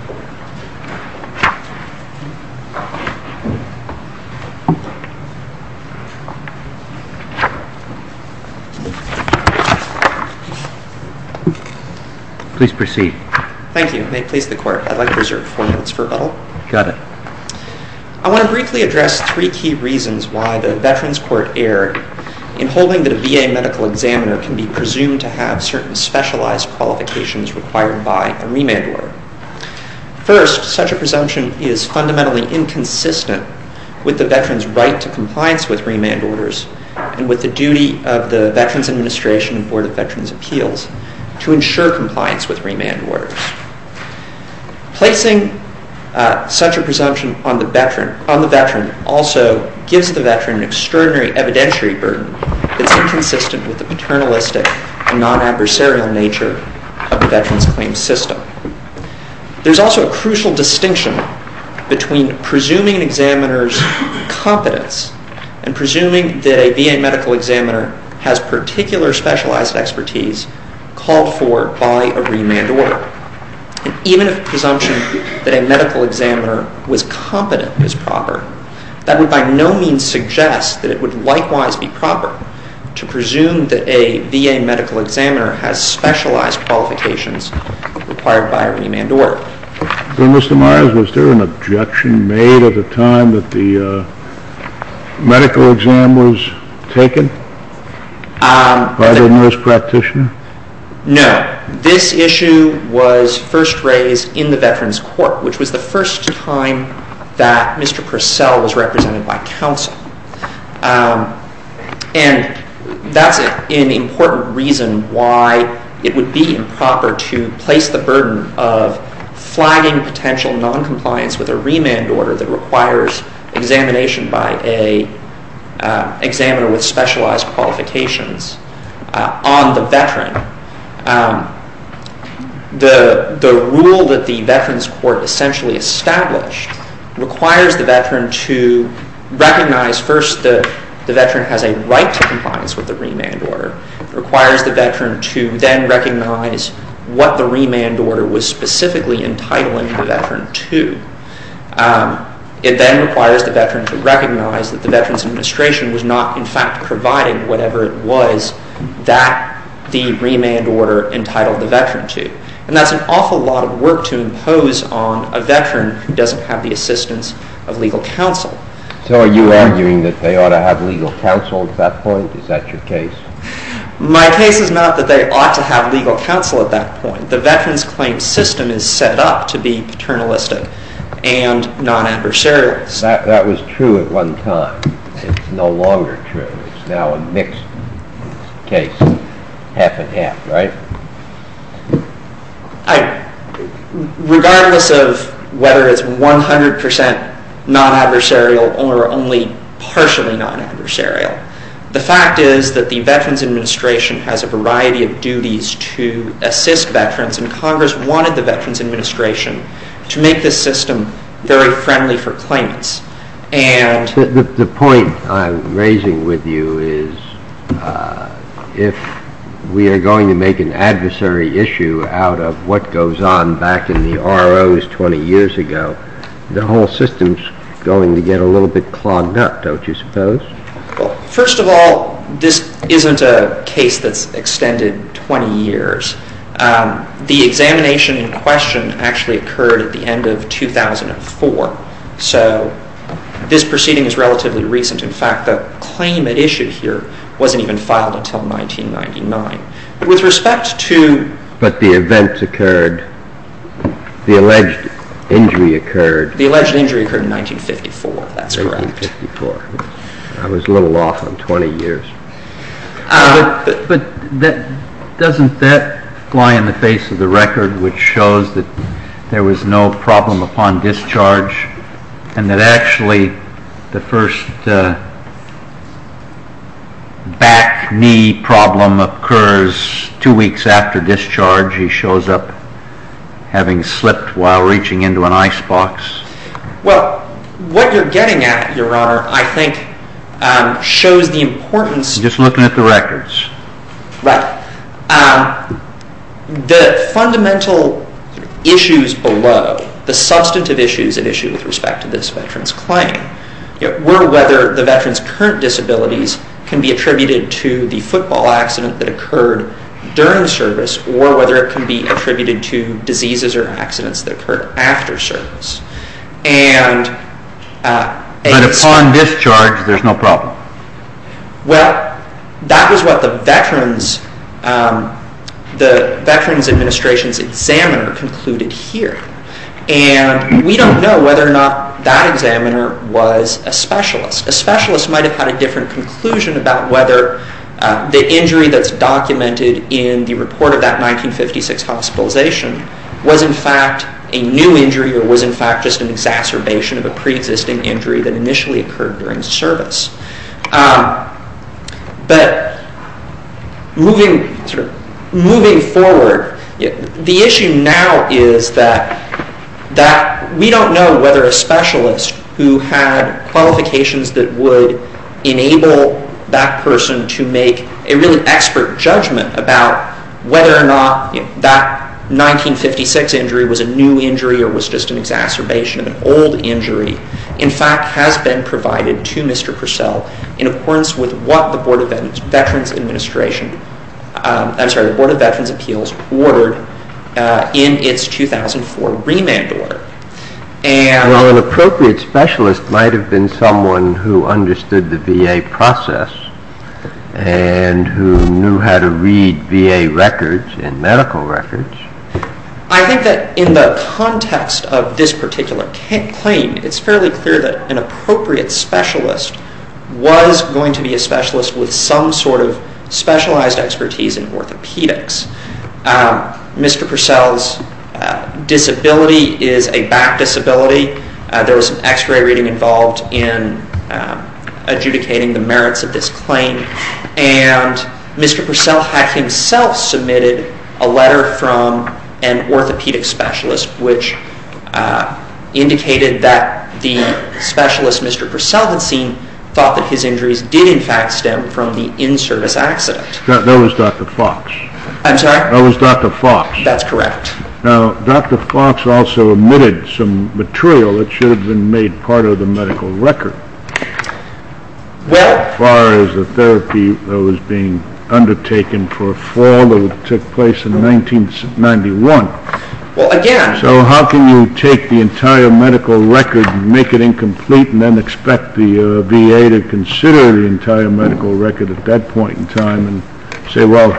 I want to briefly address three key reasons why the Veterans Court erred in holding that a VA medical examiner can be presumed to have certain specialized qualifications required by a remand order. First, such a presumption is fundamentally inconsistent with the veteran's right to compliance with remand orders and with the duty of the Veterans Administration and Board of Veterans Appeals to ensure compliance with remand orders. Placing such a presumption on the veteran also gives the veteran an extraordinary evidentiary burden that's inconsistent with the paternalistic and non-adversarial nature of the Veterans Claims System. There's also a crucial distinction between presuming an examiner's competence and presuming that a VA medical examiner has particular specialized expertise called for by a remand order. And even if the presumption that a medical examiner was competent is proper, that would by no means suggest that it would likewise be proper to presume that a VA medical examiner has specialized qualifications required by a remand order. JUSTICE KENNEDY Well, Mr. Myers, was there an objection made at the time that the medical exam was taken by the nurse practitioner? MR. MYERS No. This issue was first raised in the Veterans Court, which was the first time that Mr. Purcell was represented by counsel. And that's an important reason why it would be improper to place the burden of flagging potential noncompliance with a remand order that requires examination by an examiner with specialized qualifications on the veteran. The rule that the Veterans Court essentially established requires the veteran to recognize first that the veteran has a right to compliance with the remand order, requires the veteran to then recognize what the remand order was specifically entitling the veteran to. It then requires the veteran to recognize that the Veterans Administration was not, in fact, providing whatever it was that the remand order entitled the veteran to. And that's an awful lot of work to impose on a veteran who doesn't have the assistance of legal counsel. JUSTICE KENNEDY So are you arguing that they ought to have legal counsel at that point? Is that your case? MR. MYERS My case is not that they ought to have legal counsel at that point. The Veterans Claim System is set up to be paternalistic and non-adversarial. JUSTICE KENNEDY That was true at one time. It's no longer true. It's now a mixed case, half and half, right? MR. MYERS Regardless of whether it's 100 percent non-adversarial or only partially non-adversarial, the fact is that the Veterans Administration has a variety of duties to assist veterans, and Congress wanted the Veterans Administration to make this system very friendly for claimants. And... JUSTICE KENNEDY But if you take the adversary issue out of what goes on back in the ROs 20 years ago, the whole system's going to get a little bit clogged up, don't you suppose? MR. MYERS Well, first of all, this isn't a case that's extended 20 years. The examination in question actually occurred at the end of 2004. So this proceeding is relatively recent. In fact, the claim it issued here wasn't even filed until 1999. With respect to... JUSTICE KENNEDY But the event occurred, the alleged injury occurred... MR. MYERS The alleged injury occurred in 1954. That's correct. JUSTICE KENNEDY 1954. I was a little off on 20 years. MR. MYERS But... JUSTICE KENNEDY But doesn't that fly in the face of the record, which shows that there was no problem upon discharge, and that actually the first back knee problem occurs two weeks after discharge. He shows up having slipped while reaching into an icebox. MR. MYERS Well, what you're getting at, Your Honor, I think shows the importance... JUSTICE KENNEDY MR. MYERS Right. The fundamental issues below, the substantive issues at issue with respect to this veteran's claim, were whether the veteran's current disabilities can be attributed to the football accident that occurred during service, or whether it can be attributed to diseases or accidents that occurred after service. And... JUSTICE KENNEDY But upon discharge, there's no problem. MR. MYERS Well, that was what the Veterans Administration's examiner concluded here. And we don't know whether or not that examiner was a specialist. A specialist might have had a different conclusion about whether the injury that's documented in the report of that 1956 hospitalization was in fact a new injury or was in fact just an exacerbation of a preexisting injury that But moving forward, the issue now is that we don't know whether a specialist who had qualifications that would enable that person to make a really expert judgment about whether or not that 1956 injury was a new injury or was just an exacerbation of an old injury, in fact, has been provided to Mr. Purcell in accordance with what the Board of Veterans Administration, I'm sorry, the Board of Veterans' Appeals ordered in its 2004 remand order. JUSTICE KENNEDY Well, an appropriate specialist might have been someone who understood the VA process and who knew how to read VA records and medical records. MR. MYERS I think that in the context of this particular claim, it's fairly clear that an appropriate specialist was going to be a specialist with some sort of specialized expertise in orthopedics. Mr. Purcell's disability is a back disability. There was an x-ray reading involved in adjudicating the merits of this claim, and Mr. Purcell had himself submitted a letter from an orthopedic specialist which indicated that the specialist Mr. Purcell had seen thought that his injuries did in fact stem from the in-service accident. JUSTICE KENNEDY That was Dr. Fox. MR. MYERS I'm sorry? JUSTICE KENNEDY That was Dr. Fox. MR. MYERS That's correct. JUSTICE KENNEDY Now, Dr. Fox also omitted some material that should have been made part of the medical record. MR. MYERS Well? JUSTICE KENNEDY As far as the therapy that was being undertaken for a fall that took place in 1991. MR. MYERS Well, again... JUSTICE KENNEDY So how can you take the entire medical record, make it incomplete, and then expect the VA to consider the entire medical record at that point in time and say, well,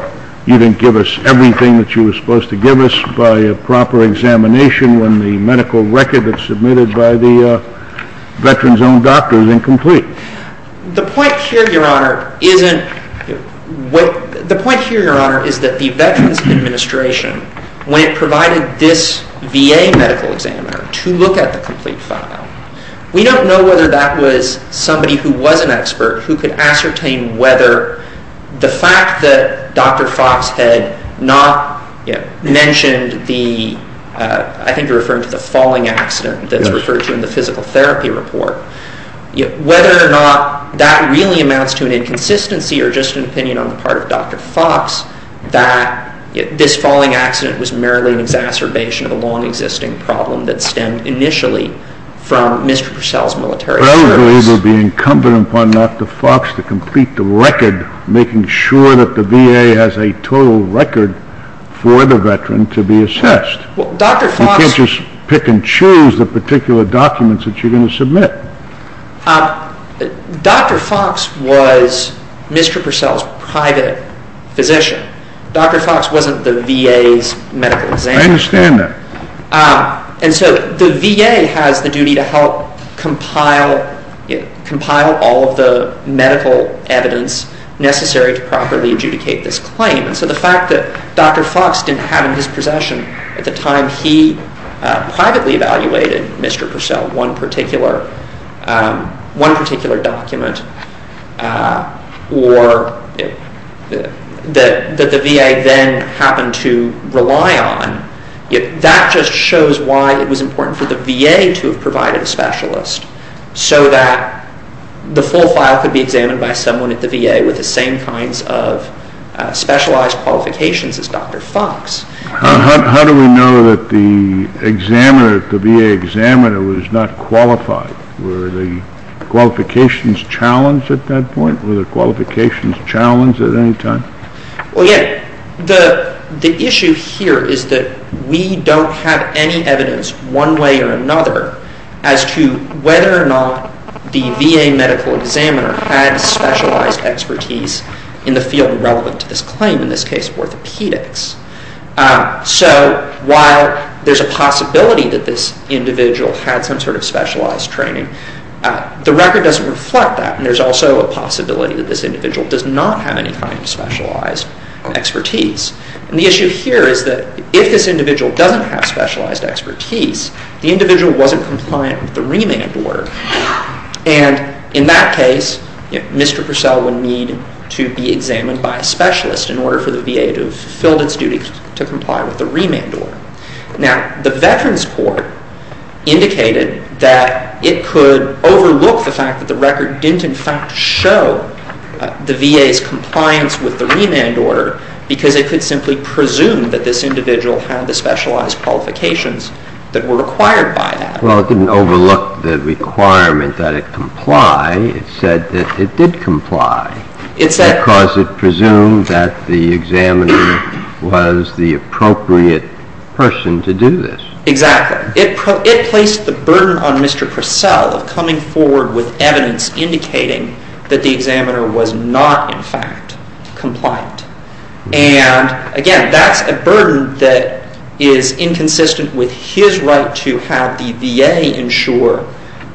you didn't give us everything that you were supposed to give us by a proper examination when the medical record that's submitted by the veteran's own doctor is incomplete? MR. MYERS The point here, Your Honor, is that the Veterans Administration, when it provided this VA medical examiner to look at the complete file, we don't know whether that was somebody who was an expert who could ascertain whether the fact that Dr. Fox had not mentioned the, I guess, falling accident that's referred to in the physical therapy report, whether or not that really amounts to an inconsistency or just an opinion on the part of Dr. Fox that this falling accident was merely an exacerbation of a long-existing problem that stemmed initially from Mr. Purcell's military service. JUSTICE KENNEDY Probably would be incumbent upon Dr. Fox to complete the record, making sure that the VA has a total record for the veteran to be assessed. MR. MYERS Well, Dr. Fox... JUSTICE KENNEDY ...doesn't disclose the particular documents that you're going to submit. MR. MYERS Dr. Fox was Mr. Purcell's private physician. Dr. Fox wasn't the VA's medical examiner. JUSTICE KENNEDY I understand that. MR. MYERS And so the VA has the duty to help compile all of the medical evidence necessary to properly adjudicate this claim. And so the fact that Dr. Fox didn't have in his possession at the time he privately evaluated Mr. Purcell one particular document or that the VA then happened to rely on, that just shows why it was important for the VA to have provided a specialist so that the as Dr. Fox. JUSTICE KENNEDY How do we know that the examiner, the VA examiner, was not qualified? Were the qualifications challenged at that point, were the qualifications challenged at any time? MR. MYERS Well, again, the issue here is that we don't have any evidence one way or another as to whether or not the VA medical examiner had specialized expertise in the field relevant to this claim, in this case, orthopedics. So while there's a possibility that this individual had some sort of specialized training, the record doesn't reflect that. And there's also a possibility that this individual does not have any kind of specialized expertise. And the issue here is that if this individual doesn't have specialized expertise, the individual wasn't compliant with the remand order. And in that case, Mr. Purcell would need to be examined by a specialist in order for the VA to have fulfilled its duty to comply with the remand order. Now, the Veterans Court indicated that it could overlook the fact that the record didn't in fact show the VA's compliance with the remand order because it could simply presume that this individual had the specialized qualifications that were required by that. Well, it didn't overlook the requirement that it comply. It said that it did comply because it presumed that the examiner was the appropriate person to do this. Exactly. It placed the burden on Mr. Purcell of coming forward with evidence indicating that the examiner was not, in fact, compliant. And again, that's a burden that is inconsistent with his right to have the VA ensure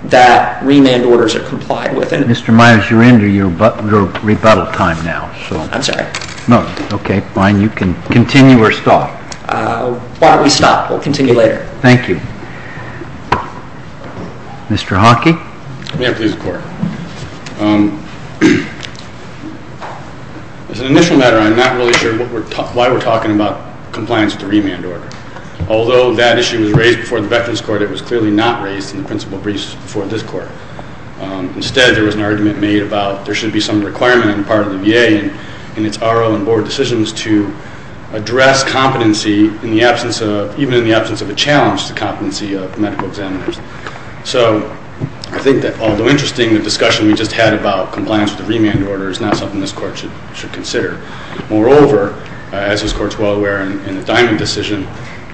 that remand orders are complied with. Mr. Myers, you're into your rebuttal time now. I'm sorry. No, okay. Fine. You can continue or stop. Why don't we stop? We'll continue later. Thank you. Mr. Hockey? May I please report? As an initial matter, I'm not really sure why we're talking about compliance with the remand order. Although that issue was raised before the Veterans Court, it was clearly not raised in the principal briefs before this court. Instead, there was an argument made about there should be some requirement on the part of the VA in its R.O. and board decisions to address competency even in the absence of a challenge to competency of medical examiners. So I think that, although interesting, the discussion we just had about compliance with the remand order is not something this court should consider. Moreover, as this court's well aware in the Diamond decision,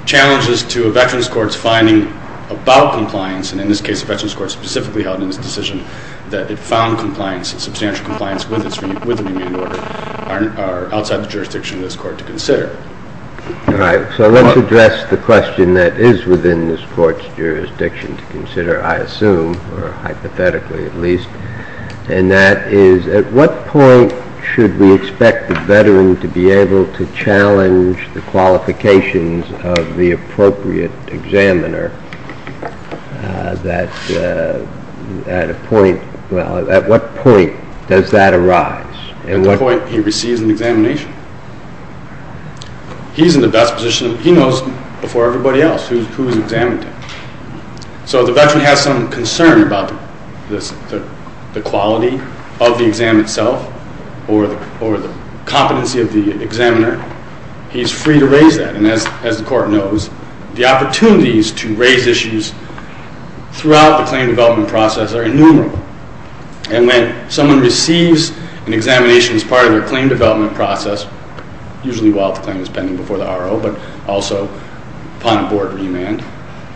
challenges to a Veterans Court's finding about compliance, and in this case, a Veterans Court specifically held in this decision that it found compliance, substantial compliance with the remand order, are outside the jurisdiction of this court to consider. All right. So let's address the question that is within this court's jurisdiction to consider, I assume, or hypothetically at least, and that is, at what point should we expect the veteran to be able to challenge the qualifications of the appropriate examiner that, at a point, well, at what point does that arise? At the point he receives an examination. He's in the best position. He knows before everybody else who's examined him. So if the veteran has some concern about the quality of the exam itself or the competency of the examiner, he's free to raise that. And as the court knows, the opportunities to raise issues throughout the claim development process are innumerable. And when someone receives an examination as part of their claim development process, usually while the claim is pending before the RO, but also upon a board remand,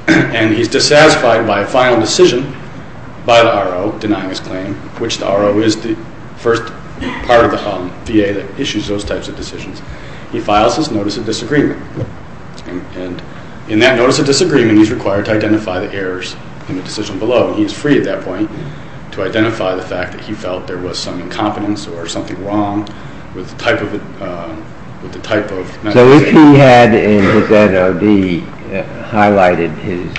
and he's dissatisfied by a final decision by the RO denying his claim, which the RO is the first part of the VA that issues those types of decisions, he files his notice of disagreement. And in that notice of disagreement, he's required to identify the errors in the decision below. And he's free at that point to identify the fact that he felt there was some incompetence or something wrong with the type of medication. So if he had in his NOD highlighted his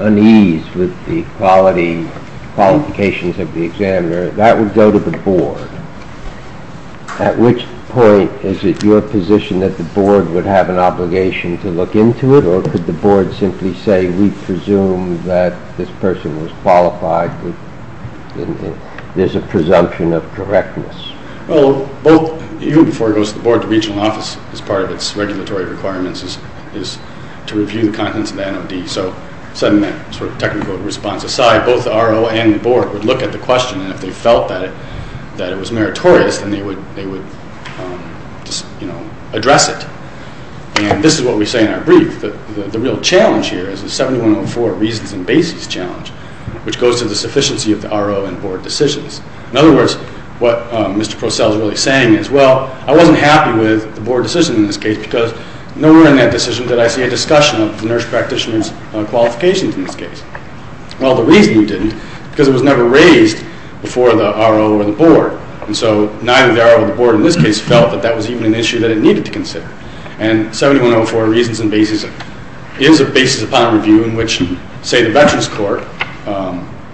unease with the quality qualifications of the examiner, that would go to the board. At which point is it your position that the board would have an obligation to look into it, or could the board simply say, we presume that this person was qualified, and there's a presumption of correctness? Well, even before it goes to the board, the regional office, as part of its regulatory requirements, is to review the contents of the NOD. So setting that sort of technical response aside, both the RO and the board would look at the question. And if they felt that it was meritorious, then they would address it. And this is what we say in our brief, that the real challenge here is the 7104 Reasons and Basis Challenge, which goes to the sufficiency of the RO and board decisions. In other words, what Mr. Procell is really saying is, well, I wasn't happy with the board decision in this case, because nowhere in that decision did I see a discussion of the nurse practitioner's qualifications in this case. Well, the reason we didn't, because it was never raised before the RO or the board. And so neither the RO or the board in this case felt that that was even an issue that they needed to consider. And 7104 Reasons and Basis is a basis upon review in which, say, the Veterans Court,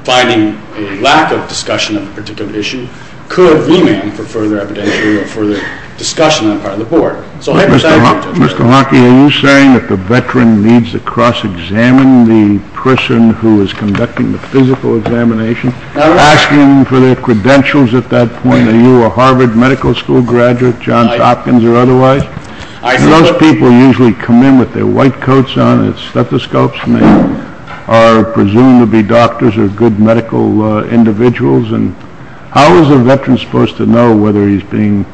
finding a lack of discussion of a particular issue, could remand for further evidence or further discussion on the part of the board. So I emphasize that. Mr. Hockey, are you saying that the veteran needs to cross-examine the person who is conducting the physical examination, asking for their credentials at that point? And are you a Harvard Medical School graduate, Johns Hopkins, or otherwise? Most people usually come in with their white coats on and stethoscopes, and they are presumed to be doctors or good medical individuals. And how is a veteran supposed to know whether he's being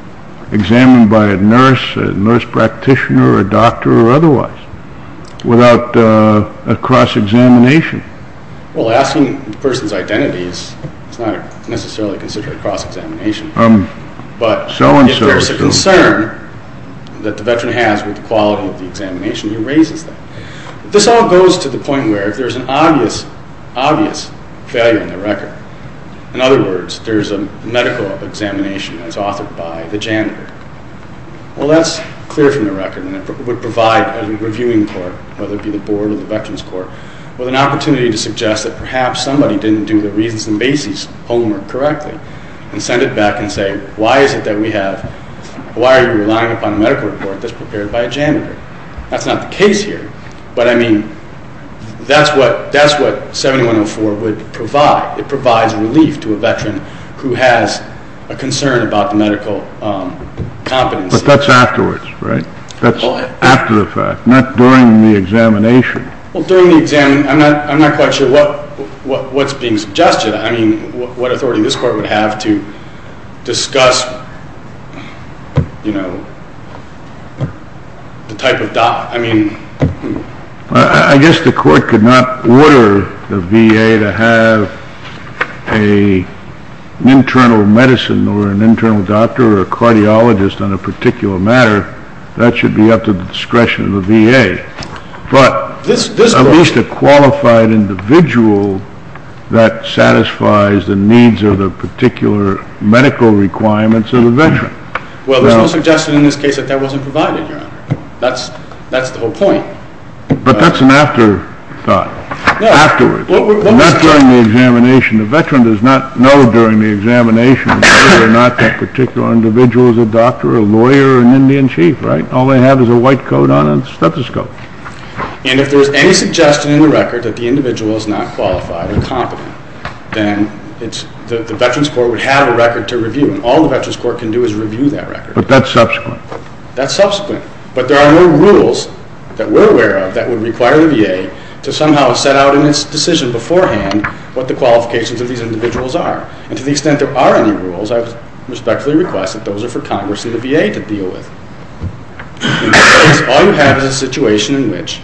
examined by a nurse, a nurse practitioner, or a doctor, or otherwise, without a cross-examination? Well, asking the person's identity is not necessarily considered a cross-examination. But if there's a concern that the veteran has with the quality of the examination, he raises that. This all goes to the point where if there's an obvious, obvious failure in the record, in other words, there's a medical examination that's authored by the janitor, well, that's clear from the record. And it would provide a reviewing court, whether it be the board or the Veterans Court, with an opportunity to suggest that perhaps somebody didn't do the reasons and basis homework correctly and send it back and say, why is it that we have, why are you relying upon a medical report that's prepared by a janitor? That's not the case here. But I mean, that's what 7104 would provide. It provides relief to a veteran who has a concern about the medical competency. But that's afterwards, right? That's after the fact, not during the examination. Well, during the exam, I'm not quite sure what's being suggested. I mean, what authority this court would have to discuss the type of doc. I guess the court could not order the VA to have an internal medicine or an internal doctor or a cardiologist on a particular matter. That should be up to the discretion of the VA. But at least a qualified individual that satisfies the needs of the particular medical requirements of the veteran. Well, there's no suggestion in this case that that wasn't provided, Your Honor. That's the whole point. But that's an afterthought, afterwards. Not during the examination. The veteran does not know during the examination whether or not that particular individual is a doctor, a lawyer, an Indian chief, right? All they have is a white coat on and a stethoscope. And if there's any suggestion in the record that the individual is not qualified or competent, then the Veterans Court would have a record to review. And all the Veterans Court can do is review that record. But that's subsequent. That's subsequent. But there are no rules that we're aware of that would require the VA to somehow set out in its decision beforehand what the qualifications of these individuals are. And to the extent there are any rules, I respectfully request that those are for Congress and the VA to deal with. In this case, all you have is a situation in which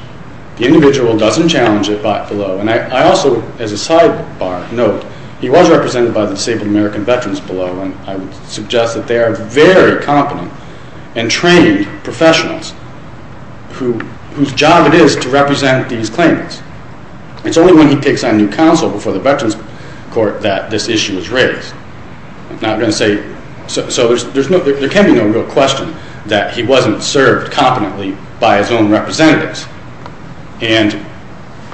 the individual doesn't challenge it below. And I also, as a sidebar note, he was represented by the Disabled American Veterans below, and I would suggest that they are very competent and trained professionals whose job it is to represent these claimants. It's only when he takes on new counsel before the Veterans Court that this issue is raised. I'm not going to say... So there can be no real question that he wasn't served competently by his own representatives. And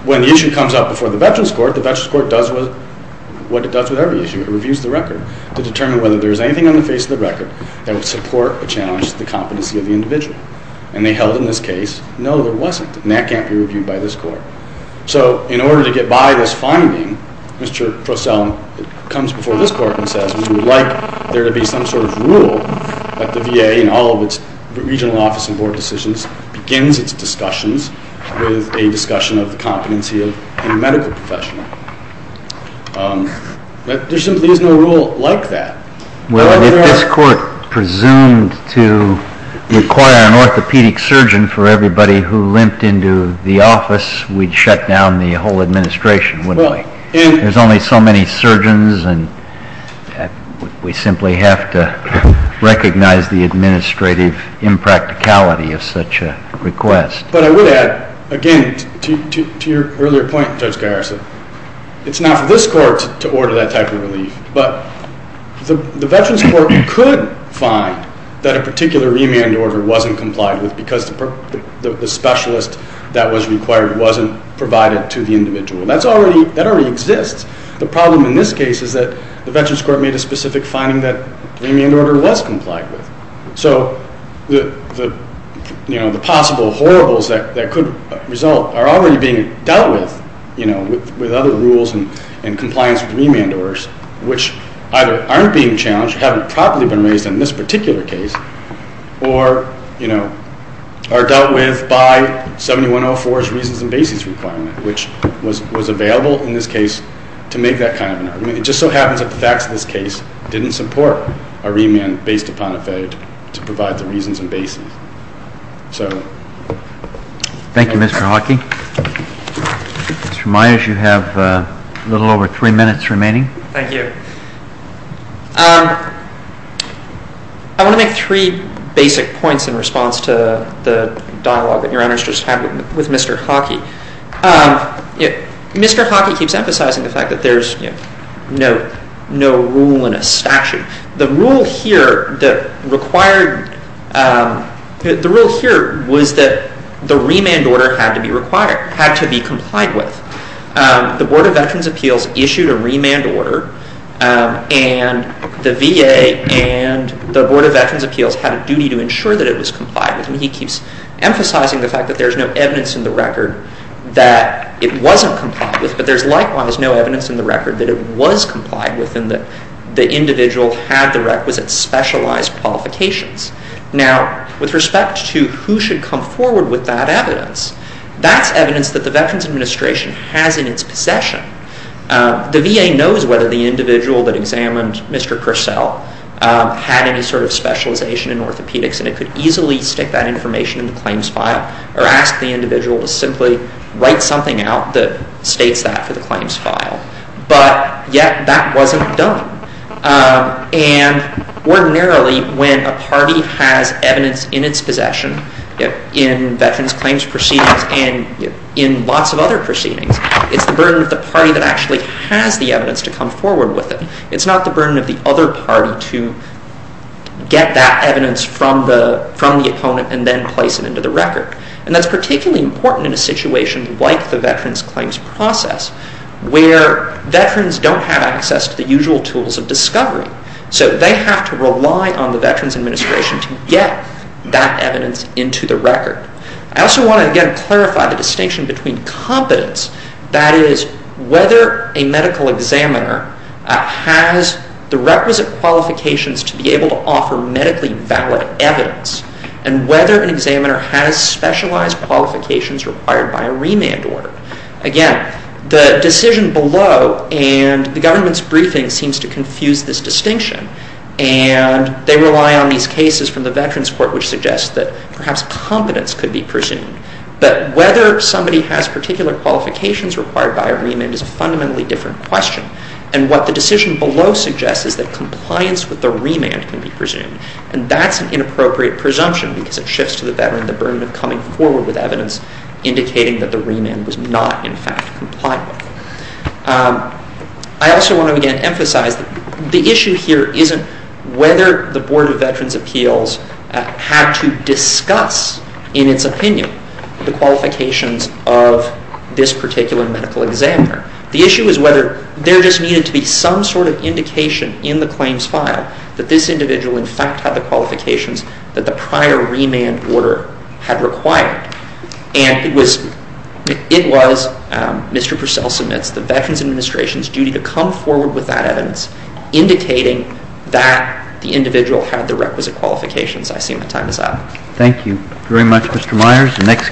when the issue comes up before the Veterans Court, the Veterans Court does what it does with every issue. It reviews the record to determine whether there's anything on the face of the record that would support a challenge to the competency of the individual. And they held in this case, no, there wasn't. And that can't be reviewed by this court. So in order to get by this finding, Mr. Procell comes before this court and says we would like there to be some sort of rule that the VA in all of its regional office and board decisions begins its discussions with a discussion of the competency of a medical professional. There simply is no rule like that. Well, if this court presumed to require an orthopedic surgeon for everybody who limped into the office, we'd shut down the whole administration, wouldn't we? There's only so many surgeons and we simply have to recognize the administrative impracticality of such a request. But I would add, again, to your earlier point, Judge Garrison, it's not for this court to order that type of relief. But the Veterans Court could find that a particular remand order wasn't complied with because the specialist that was required wasn't provided to the individual. That already exists. The problem in this case is that the Veterans Court made a specific finding that the remand order was complied with. So the possible horribles that could result are already being dealt with with other rules and compliance with remand orders, which either aren't being challenged, haven't properly been raised in this particular case, or are dealt with by 7104's reasons and basis requirement, which was available in this case to make that kind of an argument. It just so happens that the facts of this case didn't support a remand based upon a vote to provide the reasons and basis. Thank you, Mr. Hawkey. Mr. Myers, you have a little over three minutes remaining. Thank you. I want to make three basic points in response to the dialogue that your Honor's just had with Mr. Hawkey. Mr. Hawkey keeps emphasizing the fact that there's no rule in a statute. The rule here that required, the rule here was that the remand order had to be required, had to be complied with. The Board of Veterans' Appeals issued a remand order and the VA and the Board of Veterans' Appeals had a duty to ensure that it was complied with. And he keeps emphasizing the fact that there's no evidence in the record that it wasn't complied with, but there's likewise no evidence in the record that it was complied with and that the individual had the requisite specialized qualifications. Now, with respect to who should come forward with that evidence, that's evidence that the Veterans Administration has in its possession. The VA knows whether the individual that examined Mr. Purcell had any sort of specialization in orthopedics and it could easily stick that information in the claims file or ask the individual to simply write something out that states that for the claims file. But yet, that wasn't done. And ordinarily, when a party has evidence in its possession, in Veterans' Claims proceedings and in lots of other proceedings, it's the burden of the party that actually has the evidence to come forward with it. It's not the burden of the other party to get that evidence from the opponent and then place it into the record. And that's particularly important in a situation like the Veterans' Claims process where veterans don't have access to the usual tools of discovery. So they have to rely on the Veterans Administration to get that evidence into the record. I also want to again clarify the distinction between competence, that is, whether a medical examiner has the requisite qualifications to be able to offer medically valid evidence, and whether an examiner has specialized qualifications required by a remand order. Again, the decision below and the government's briefing seems to confuse this distinction. And they rely on these cases from the Veterans Court which suggests that perhaps competence could be presumed. But whether somebody has particular qualifications required by a remand is a fundamentally different question. And what the decision below suggests is that compliance with the remand can be presumed. And that's an inappropriate presumption because it shifts to the veteran the burden of coming forward with evidence indicating that the remand was not, in fact, compliant with. I also want to again emphasize that the issue here isn't whether the Board of Veterans' Appeals had to discuss in its opinion the qualifications of this particular medical examiner. The issue is whether there just needed to be some sort of indication in the claims file that this individual, in fact, had the qualifications that the prior remand order had required. And it was Mr. Purcell Smith's, the Veterans Administration's, duty to come forward with that evidence indicating that the individual had the requisite qualifications. I see my time is up. Thank you very much, Mr. Myers.